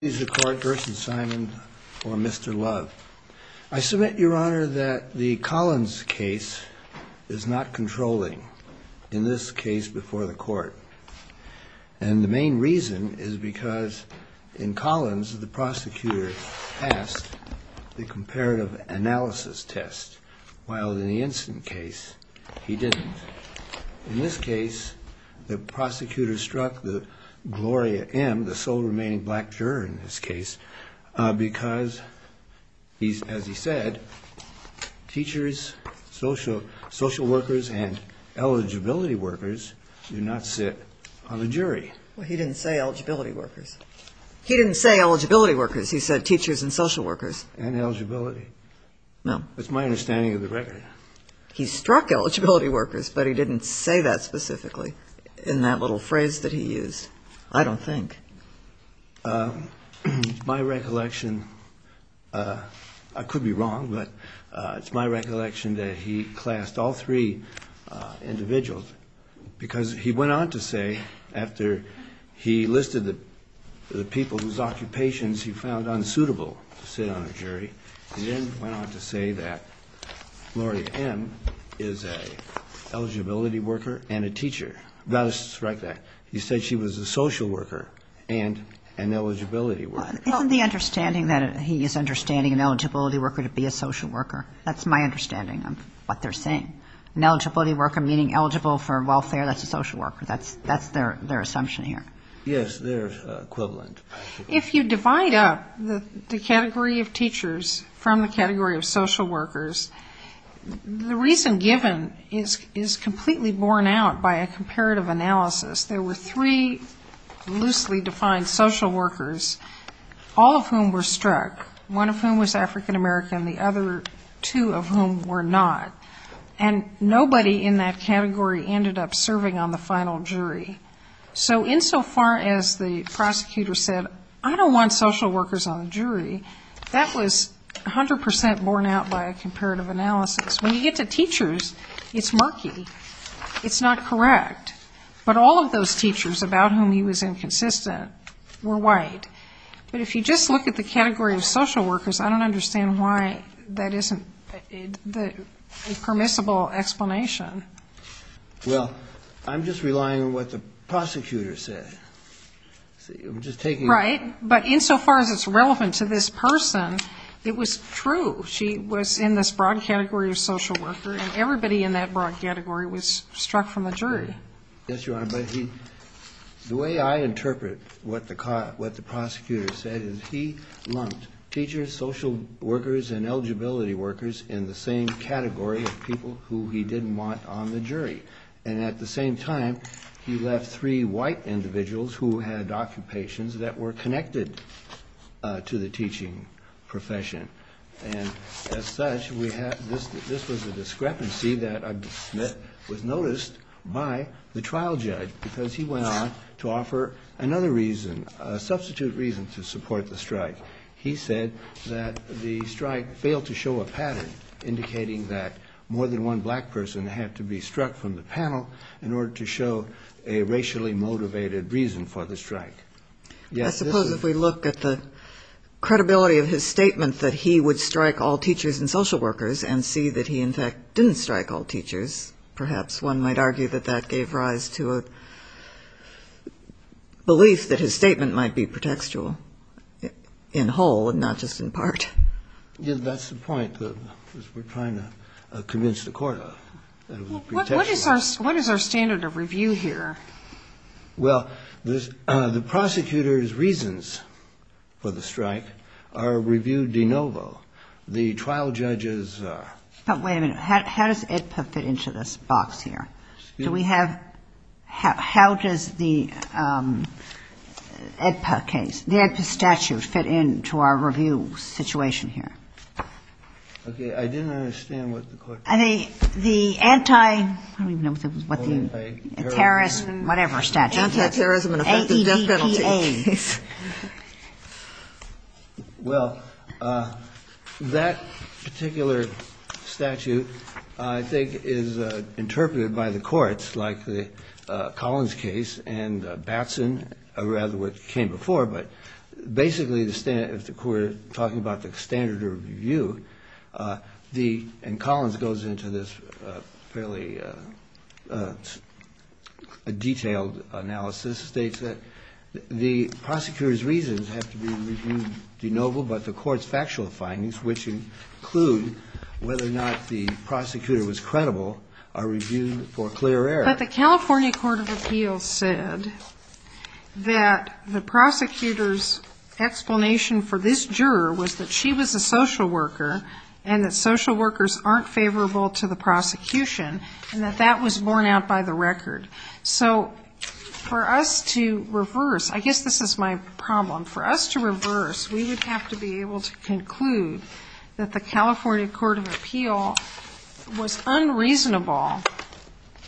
I submit your honor that the Collins case is not controlling, in this case before the court, and the main reason is because in Collins the prosecutor passed the comparative analysis test, while in the instant case he didn't. In this case, the prosecutor struck the Gloria M., the sole remaining black juror in this case, because as he said, teachers, social workers, and eligibility workers do not sit on the jury. He didn't say eligibility workers. He didn't say eligibility workers. He said teachers and social workers. And eligibility. No. That's my understanding of the record. He struck eligibility workers, but he didn't say that specifically in that little phrase that he used. I don't think. My recollection, I could be wrong, but it's my recollection that he classed all three individuals, because he went on to say, after he listed the people whose occupations he found unsuitable to sit on a jury, he then went on to say that Gloria M. is an eligibility worker and a teacher. Right there. He said she was a social worker and an eligibility worker. Isn't the understanding that he is understanding an eligibility worker to be a social worker? That's my understanding of what they're saying. An eligibility worker meaning eligible for welfare, that's a social worker. That's their assumption here. Yes, they're equivalent. If you divide up the category of teachers from the category of social workers, the reason given is completely borne out by a comparative analysis. There were three loosely defined social workers, all of whom were struck, one of whom was African American, the other two of whom were not. And nobody in that category ended up serving on the final jury. So insofar as the prosecutor said, I don't want social workers on the jury, that was 100% borne out by a comparative analysis. When you get to teachers, it's murky. It's not correct. But all of those teachers about whom he was inconsistent were white. But if you just look at the category of social workers, I don't understand why that isn't a permissible explanation. Well, I'm just relying on what the prosecutor said. Right. But insofar as it's relevant to this person, it was true. She was in this broad category of social worker, and everybody in that broad category was struck from the jury. Yes, Your Honor. The way I interpret what the prosecutor said is he lumped teachers, social workers and eligibility workers in the same category of people who he didn't want on the jury. And at the same time, he left three white individuals who had occupations that were connected to the teaching profession. And as such, this was a discrepancy that was noticed by the trial judge because he went on to offer another reason, a substitute reason to support the strike. He said that the strike failed to show a pattern indicating that more than one black person had to be struck from the panel in order to show a racially motivated reason for the strike. I suppose if we look at the credibility of his statement that he would strike all teachers and social workers and see that he in fact didn't strike all teachers, perhaps one might argue that that gave rise to a belief that his statement might be pretextual in whole and not just in part. Yes, that's the point that we're trying to convince the court of, that it was pretextual. What is our standard of review here? Well, the prosecutor's reasons for the strike are reviewed de novo. The trial judge's. But wait a minute. How does it fit into this box here? Do we have? How does the case, the statute fit into our review situation here? OK, I didn't understand what the court. I don't even know what the terrorist, whatever statute. Well, that particular statute, I think, is interpreted by the courts like the Collins case and Batson, or rather what came before. But basically, if the court is talking about the standard of review, and Collins goes into this fairly detailed analysis, states that the prosecutor's reasons have to be reviewed de novo, but the court's factual findings, which include whether or not the prosecutor was credible, are reviewed for clear error. But the California Court of Appeals said that the prosecutor's explanation for this juror was that she was a social worker, and that social workers aren't favorable to the prosecution, and that that was borne out by the record. So for us to reverse, I guess this is my problem, for us to reverse, we would have to be able to conclude that the California Court of Appeal was unreasonable,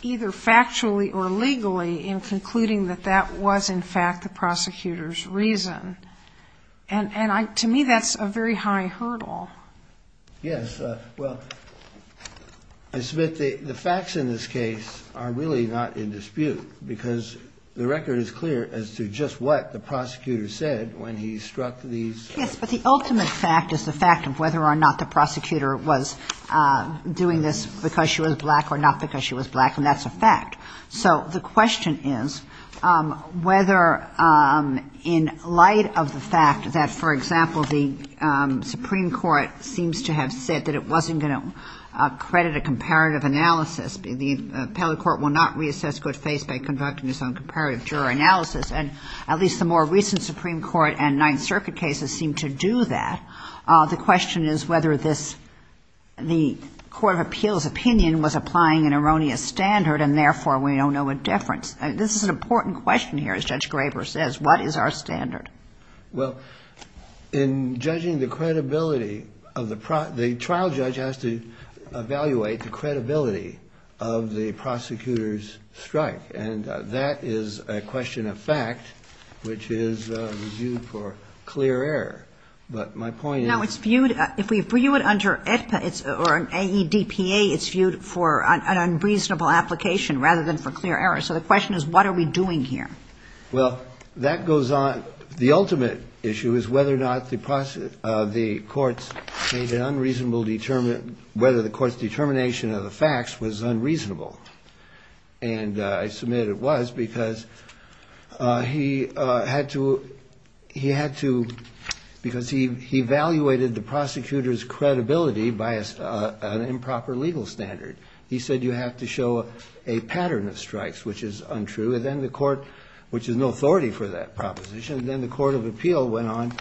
either factually or legally, in concluding that that was, in fact, the prosecutor's reason. And to me, that's a very high hurdle. Yes. Well, I submit the facts in this case are really not in dispute, because the record is clear as to just what the prosecutor said when he struck these. Yes, but the ultimate fact is the fact of whether or not the prosecutor was doing this because she was black or not because she was black, and that's a fact. So the question is whether, in light of the fact that, for example, the Supreme Court seems to have said that it wasn't going to credit a comparative analysis, the appellate court will not reassess good faith by conducting its own comparative juror analysis, and at least the more recent Supreme Court and Ninth Circuit cases seem to do that. The question is whether this, the Court of Appeal's opinion was applying an erroneous standard, and therefore, we don't know a difference. This is an important question here, as Judge Graber says. What is our standard? Well, in judging the credibility of the trial judge has to evaluate the credibility of the prosecutor's strike, and that is a question of fact, which is reviewed for clear error. But my point is... Now, it's viewed, if we view it under AEDPA, it's viewed for an unreasonable application rather than for clear error. So the question is what are we doing here? Well, that goes on. The ultimate issue is whether or not the courts made an unreasonable, whether the court's determination of the facts was unreasonable. And I submit it was, because he had to, he had to, because he evaluated the prosecutor's credibility by an improper legal standard. He said you have to show a pattern of strikes, which is untrue, and then the court, which is no authority for that proposition, then the Court of Appeal went on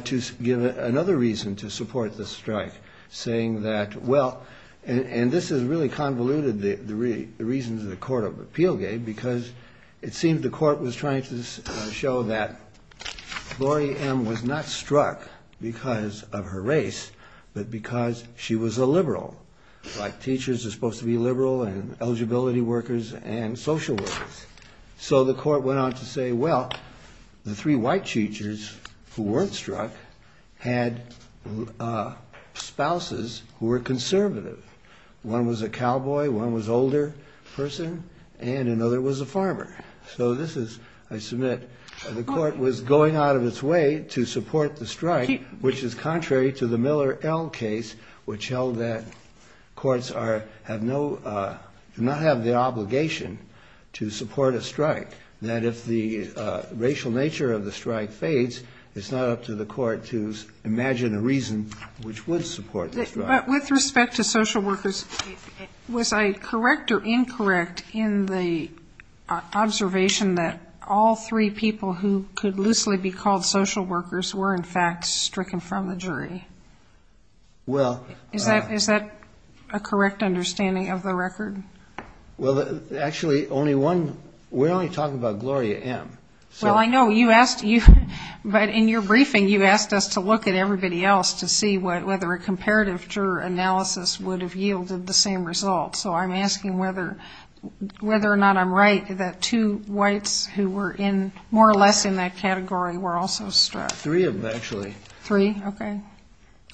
to give another reason to support the strike, saying that, well, and this has really convoluted the argument. The reason the Court of Appeal gave, because it seemed the court was trying to show that Lori M. was not struck because of her race, but because she was a liberal. Like teachers are supposed to be liberal and eligibility workers and social workers. So the court went on to say, well, the three white teachers who weren't struck had spouses who were conservative. One was a cowboy, one was an older person, and another was a farmer. So this is, I submit, the court was going out of its way to support the strike, which is contrary to the Miller L. case, which held that courts are, have no, do not have the obligation to support a strike. That if the racial nature of the strike fades, it's not up to the court to imagine a reason which would support the strike. But with respect to social workers, was I correct or incorrect in the observation that all three people who could loosely be called social workers were, in fact, stricken from the jury? Is that a correct understanding of the record? Well, actually, only one, we're only talking about Gloria M. Well, I know, you asked, but in your briefing you asked us to look at everybody else to see whether a comparative juror analysis would have yielded the same result. So I'm asking whether or not I'm right that two whites who were in, more or less in that category were also struck. Three of them, actually. Three, okay.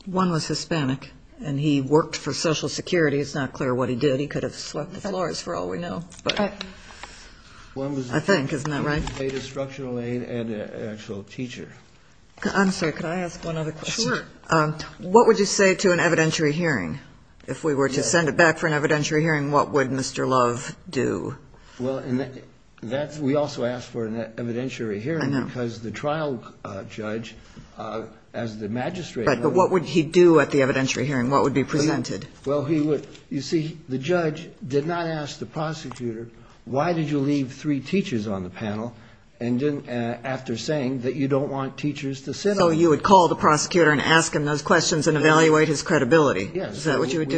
One was Hispanic, and he worked for Social Security. It's not clear what he did. He could have swept the floors, for all we know. I think, isn't that right? I'm sorry, could I ask one other question? Sure. What would you say to an evidentiary hearing? If we were to send it back for an evidentiary hearing, what would Mr. Love do? Well, we also asked for an evidentiary hearing, because the trial judge, as the magistrate... Right, but what would he do at the evidentiary hearing? What would be presented? Well, he would, you see, the judge did not ask the prosecutor, why did you leave three teachers on the panel, after saying that you don't want teachers to sit on it? So you would call the prosecutor and ask him those questions and evaluate his credibility? Is that what you would do?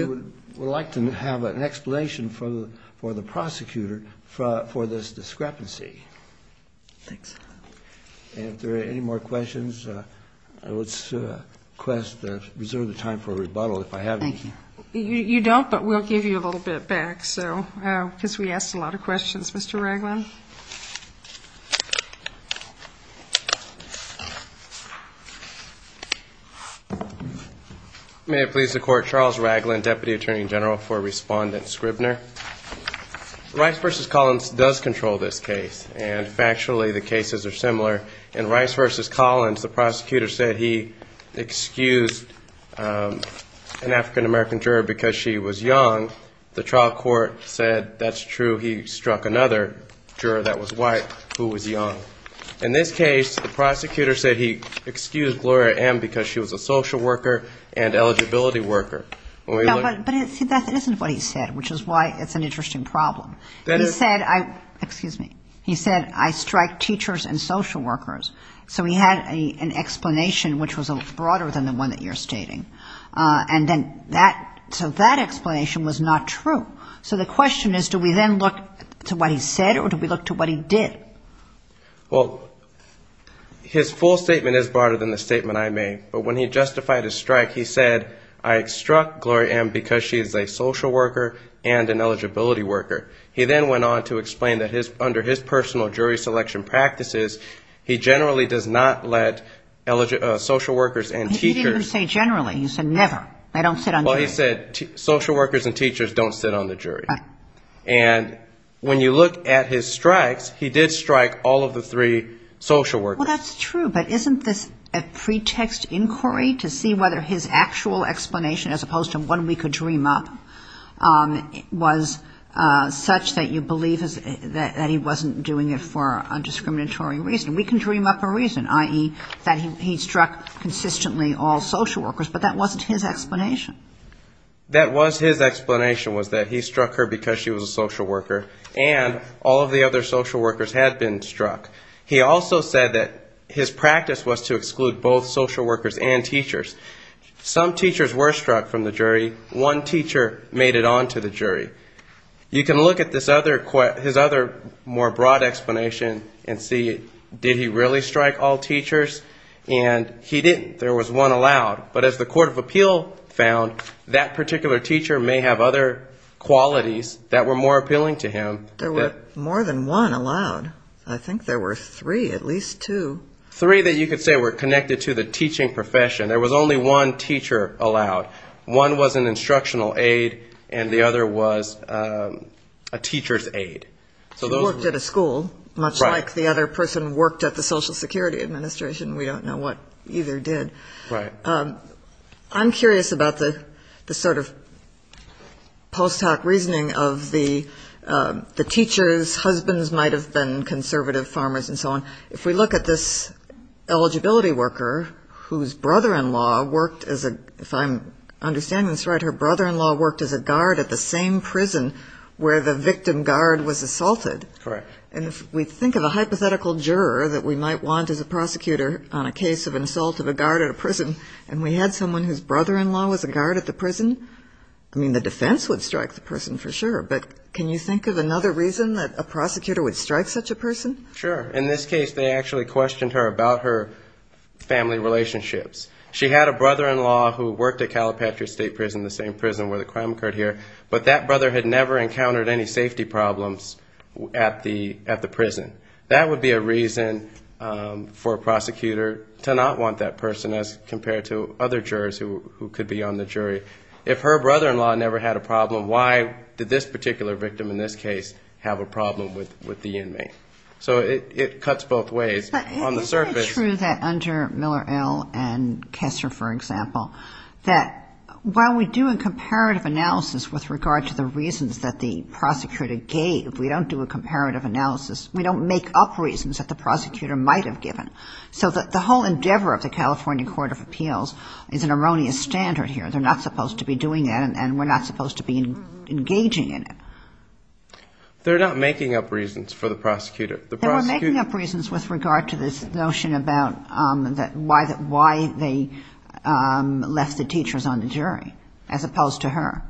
Yes, we would like to have an explanation for the prosecutor for this discrepancy. Thanks. And if there are any more questions, I would request to reserve the time for a rebuttal, if I have any. You don't, but we'll give you a little bit back, because we asked a lot of questions. Mr. Raglin? May it please the Court, Charles Raglin, Deputy Attorney General for Respondent Scribner. Rice v. Collins does control this case, and factually the cases are similar. In Rice v. Collins, the prosecutor said he excused an African-American juror because she was young. The trial court said that's true, he struck another juror that was white who was young. In this case, the prosecutor said he excused Gloria M. because she was a social worker and eligibility worker. No, but see, that isn't what he said, which is why it's an interesting problem. He said, excuse me, he said, I strike teachers and social workers. So he had an explanation which was a little broader than the one that you're stating. And then that, you know, that's what he said. So that explanation was not true. So the question is, do we then look to what he said, or do we look to what he did? Well, his full statement is broader than the statement I made. But when he justified his strike, he said, I struck Gloria M. because she is a social worker and an eligibility worker. He then went on to explain that under his personal jury selection practices, he generally does not let social workers and teachers. He didn't say generally. He said never. They don't sit on the jury. Well, he said social workers and teachers don't sit on the jury. And when you look at his strikes, he did strike all of the three social workers. Well, that's true. But isn't this a pretext inquiry to see whether his actual explanation, as opposed to one we could dream up, was such that you believe that he wasn't doing it for a discriminatory reason? We can dream up a reason, i.e. that he struck consistently all social workers. But that wasn't his explanation. That was his explanation, was that he struck her because she was a social worker. And all of the other social workers had been struck. He also said that his practice was to exclude both social workers and teachers. Some teachers were struck from the jury. One teacher made it on to the jury. You can look at this other, his other more broad explanation and see, did he really strike all teachers? And he didn't. There was one allowed, and he didn't. But as the Court of Appeal found, that particular teacher may have other qualities that were more appealing to him. There were more than one allowed. I think there were three, at least two. Three that you could say were connected to the teaching profession. There was only one teacher allowed. One was an instructional aide, and the other was a teacher's aide. She worked at a school, much like the other person worked at the Social Security Administration. We don't know what either did. I'm curious about the sort of post hoc reasoning of the teachers, husbands might have been conservative farmers and so on. If we look at this eligibility worker whose brother-in-law worked as a, if I'm understanding this right, her brother-in-law worked as a guard at the same prison where the victim guard was assaulted. And if we think of a hypothetical juror that we might want as a prosecutor on a case of assault of a guard at a prison, and we had someone whose brother-in-law was a guard at the prison, I mean, the defense would strike the person for sure. But can you think of another reason that a prosecutor would strike such a person? Sure. In this case, they actually questioned her about her family relationships. She had a brother-in-law who worked at Calipatria State Prison, the same prison where the crime occurred here. But that brother had never encountered any safety problems at the prison. That would be a reason for a prosecutor to not want that person as compared to other jurors who could be on the jury. If her brother-in-law never had a problem, why did this particular victim in this case have a problem with the inmate? So it cuts both ways. Is it true that under Miller L. and Kessler, for example, that while we do a comparative analysis with regard to the reasons that the prosecutor gave, we don't do a comparative analysis, we don't make up reasons that the prosecutor might have given? So the whole endeavor of the California Court of Appeals is an erroneous standard here. They're not supposed to be doing that, and we're not supposed to be engaging in it. They're not making up reasons for the prosecutor. They were making up reasons with regard to this notion about why they left the teachers on the jury, as opposed to her.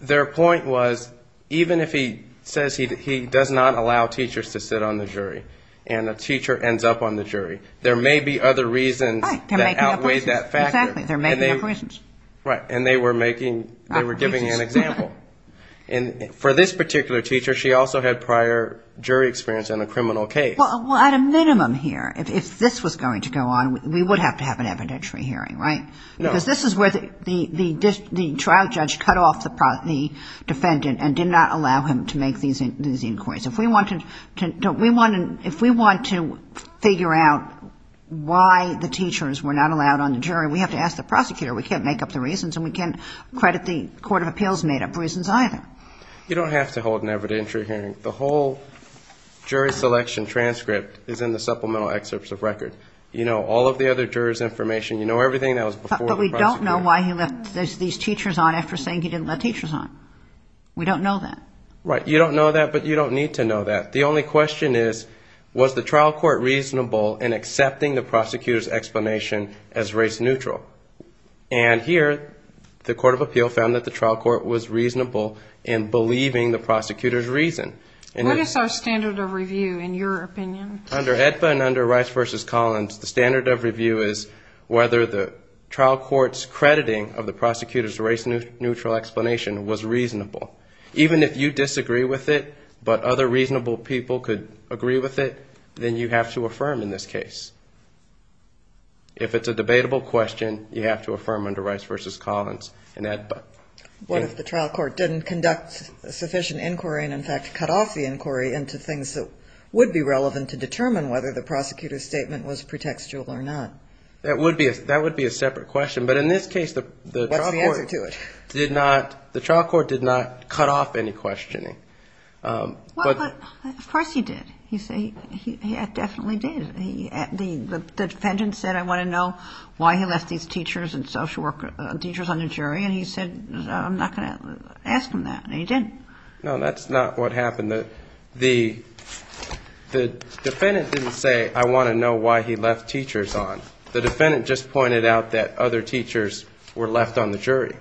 Their point was, even if he says he does not allow teachers to sit on the jury, and a teacher ends up on the jury, there may be other reasons that outweigh that factor. Right, they're making up reasons. Right, and they were giving an example. And for this particular teacher, she also had prior jury experience in a criminal case. Well, at a minimum here, if this was going to go on, we would have to have an evidentiary hearing, right? Because this is where the trial judge cut off the defendant and did not allow him to make these inquiries. If we want to figure out why the teachers were not allowed on the jury, we have to ask the prosecutor. We can't make up the reasons, and we can't credit the court of appeals made up reasons either. You don't have to hold an evidentiary hearing. The whole jury selection transcript is in the supplemental excerpts of record. You know all of the other jurors' information. You know everything that was before the prosecutor. We don't know why he left these teachers on after saying he didn't let teachers on. We don't know that. Right, you don't know that, but you don't need to know that. The only question is, was the trial court reasonable in accepting the prosecutor's explanation as race neutral? And here, the court of appeal found that the trial court was reasonable in believing the prosecutor's reason. What is our standard of review, in your opinion? Under AEDPA and under Rice v. Collins, the standard of review is whether the trial court's crediting of the prosecutor's race-neutral explanation was reasonable. Even if you disagree with it, but other reasonable people could agree with it, then you have to affirm in this case. If it's a debatable question, you have to affirm under Rice v. Collins and AEDPA. What if the trial court didn't conduct sufficient inquiry and, in fact, cut off the inquiry into things that would be relevant to determine whether the prosecutor's statement was pretextual or not? That would be a separate question, but in this case, the trial court did not cut off any questioning. Of course he did. He said he definitely did. The defendant said, I want to know why he left these teachers and social workers, teachers on the jury, and he said, I'm not going to ask him that, and he didn't. No, that's not what happened. The defendant didn't say, I want to know why he left teachers on. The defendant just pointed out that other teachers were left on the jury.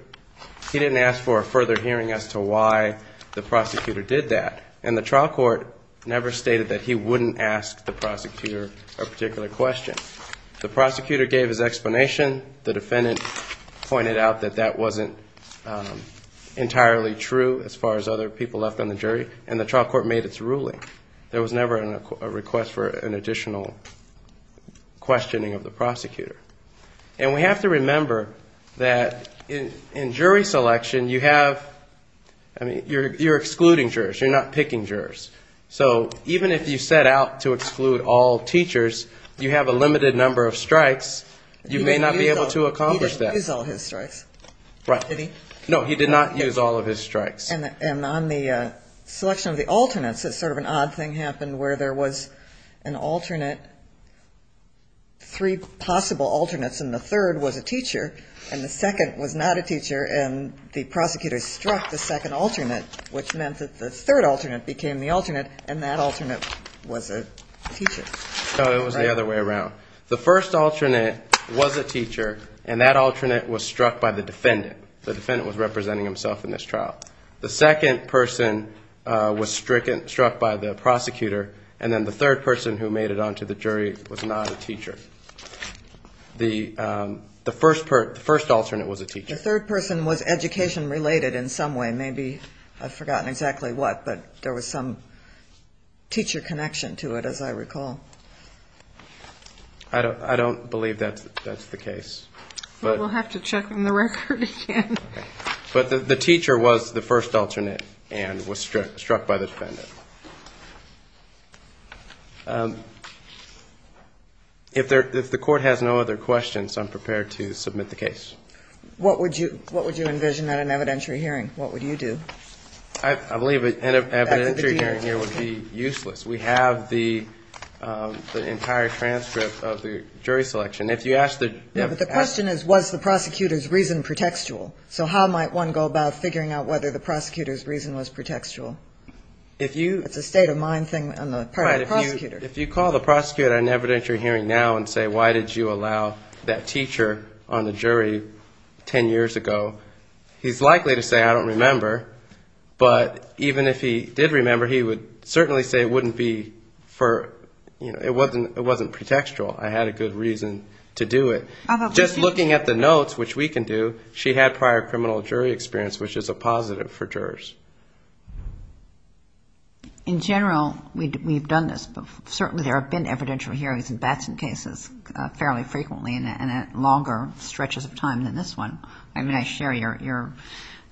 He didn't ask for a further hearing as to why the prosecutor did that, and the trial court never stated that he wouldn't ask the prosecutor a particular question. The prosecutor gave his explanation. The defendant pointed out that that wasn't entirely true as far as other people left on the jury, and the trial court made its ruling. There was never a request for an additional questioning of the prosecutor. And we have to remember that in jury selection, you have, I mean, you're excluding jurors. You're not picking jurors. So even if you set out to exclude all teachers, you have a limited number of strikes. You may not be able to accomplish that. He did not use all his strikes, did he? No, he did not use all of his strikes. And on the selection of the alternates, sort of an odd thing happened where there was an alternate, three possible alternates, and the third was a teacher, and the second was not a teacher, and the prosecutor struck the second alternate, which meant that the third alternate became the alternate, and that alternate was a teacher. No, it was the other way around. The first alternate was a teacher, and that alternate was struck by the defendant. The defendant was representing himself in this trial. The second person was struck by the prosecutor, and then the third person who made it onto the jury was not a teacher. The first alternate was a teacher. The third person was education-related in some way. Maybe I've forgotten exactly what, but there was some teacher connection to it, as I recall. I don't believe that's the case. Well, we'll have to check on the record again. But the teacher was the first alternate and was struck by the defendant. If the court has no other questions, I'm prepared to submit the case. What would you envision at an evidentiary hearing? What would you do? I believe an evidentiary hearing here would be useless. We have the entire transcript of the jury selection. But the question is, was the prosecutor's reason pretextual? So how might one go about figuring out whether the prosecutor's reason was pretextual? It's a state-of-mind thing on the part of the prosecutor. If you call the prosecutor at an evidentiary hearing now and say, why did you allow that teacher on the jury 10 years ago, he's likely to say, I don't remember. But even if he did remember, he would certainly say it wouldn't be for, you know, it wasn't pretextual. I had a good reason to do it. Just looking at the notes, which we can do, she had prior criminal jury experience, which is a positive for jurors. In general, we've done this. Certainly there have been evidentiary hearings in Batson cases fairly frequently and at longer stretches of time than this one. I mean, I share your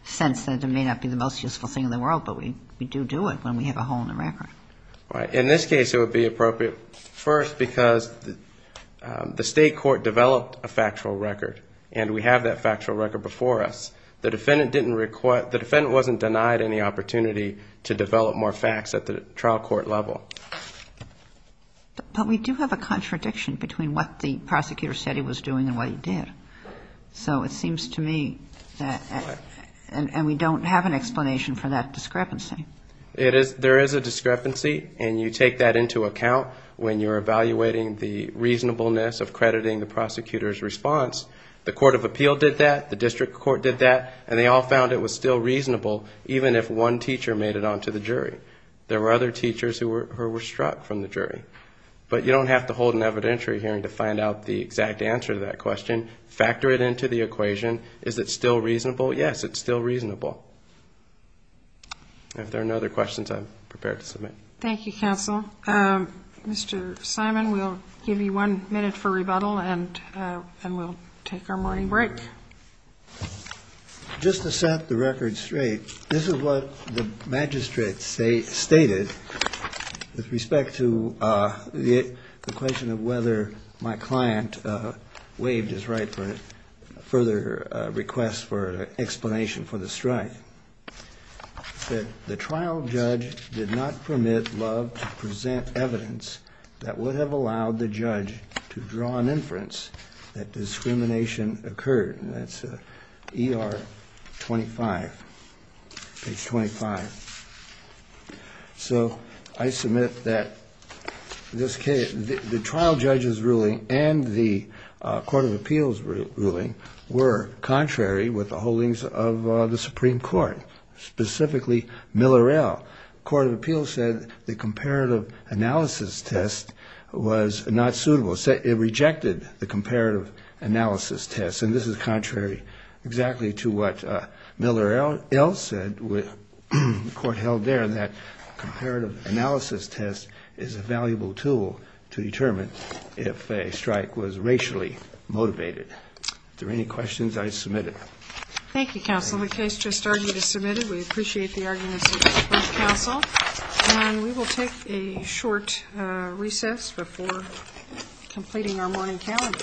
sense that it may not be the most useful thing in the world, but we do do it when we have a hole in the record. In this case, it would be appropriate first because the state court developed a factual record, and we have that factual record before us. The defendant wasn't denied any opportunity to develop more facts at the trial court level. But we do have a contradiction between what the prosecutor said he was doing and what he did. So it seems to me that we don't have an explanation for that discrepancy. There is a discrepancy, and you take that into account when you're evaluating the reasonableness of crediting the prosecutor's response. The court of appeal did that, the district court did that, and they all found it was still reasonable, even if one teacher made it onto the jury. There were other teachers who were struck from the jury. But you don't have to hold an evidentiary hearing to find out the exact answer to that question. Factor it into the equation. Is it still reasonable? Yes, it's still reasonable. If there are no other questions, I'm prepared to submit. Thank you, counsel. Mr. Simon, we'll give you one minute for rebuttal, and we'll take our morning break. Just to set the record straight, this is what the magistrate stated with respect to the question of whether my client waived his right explanation for the strike, that the trial judge did not permit Love to present evidence that would have allowed the judge to draw an inference that discrimination occurred. And that's ER 25, page 25. So I submit that the trial judge's ruling and the court of appeals' ruling were contrary with the holdings of the district court. Specifically, Miller L. The court of appeals said the comparative analysis test was not suitable. It rejected the comparative analysis test. And this is contrary exactly to what Miller L. said. The court held there that comparative analysis test is a valuable tool to determine if a strike was racially motivated. If there are any questions, I submit it. Thank you, counsel. The case just argued is submitted. We appreciate the arguments of both counsel. And we will take a short recess before completing our morning calendar. Thank you.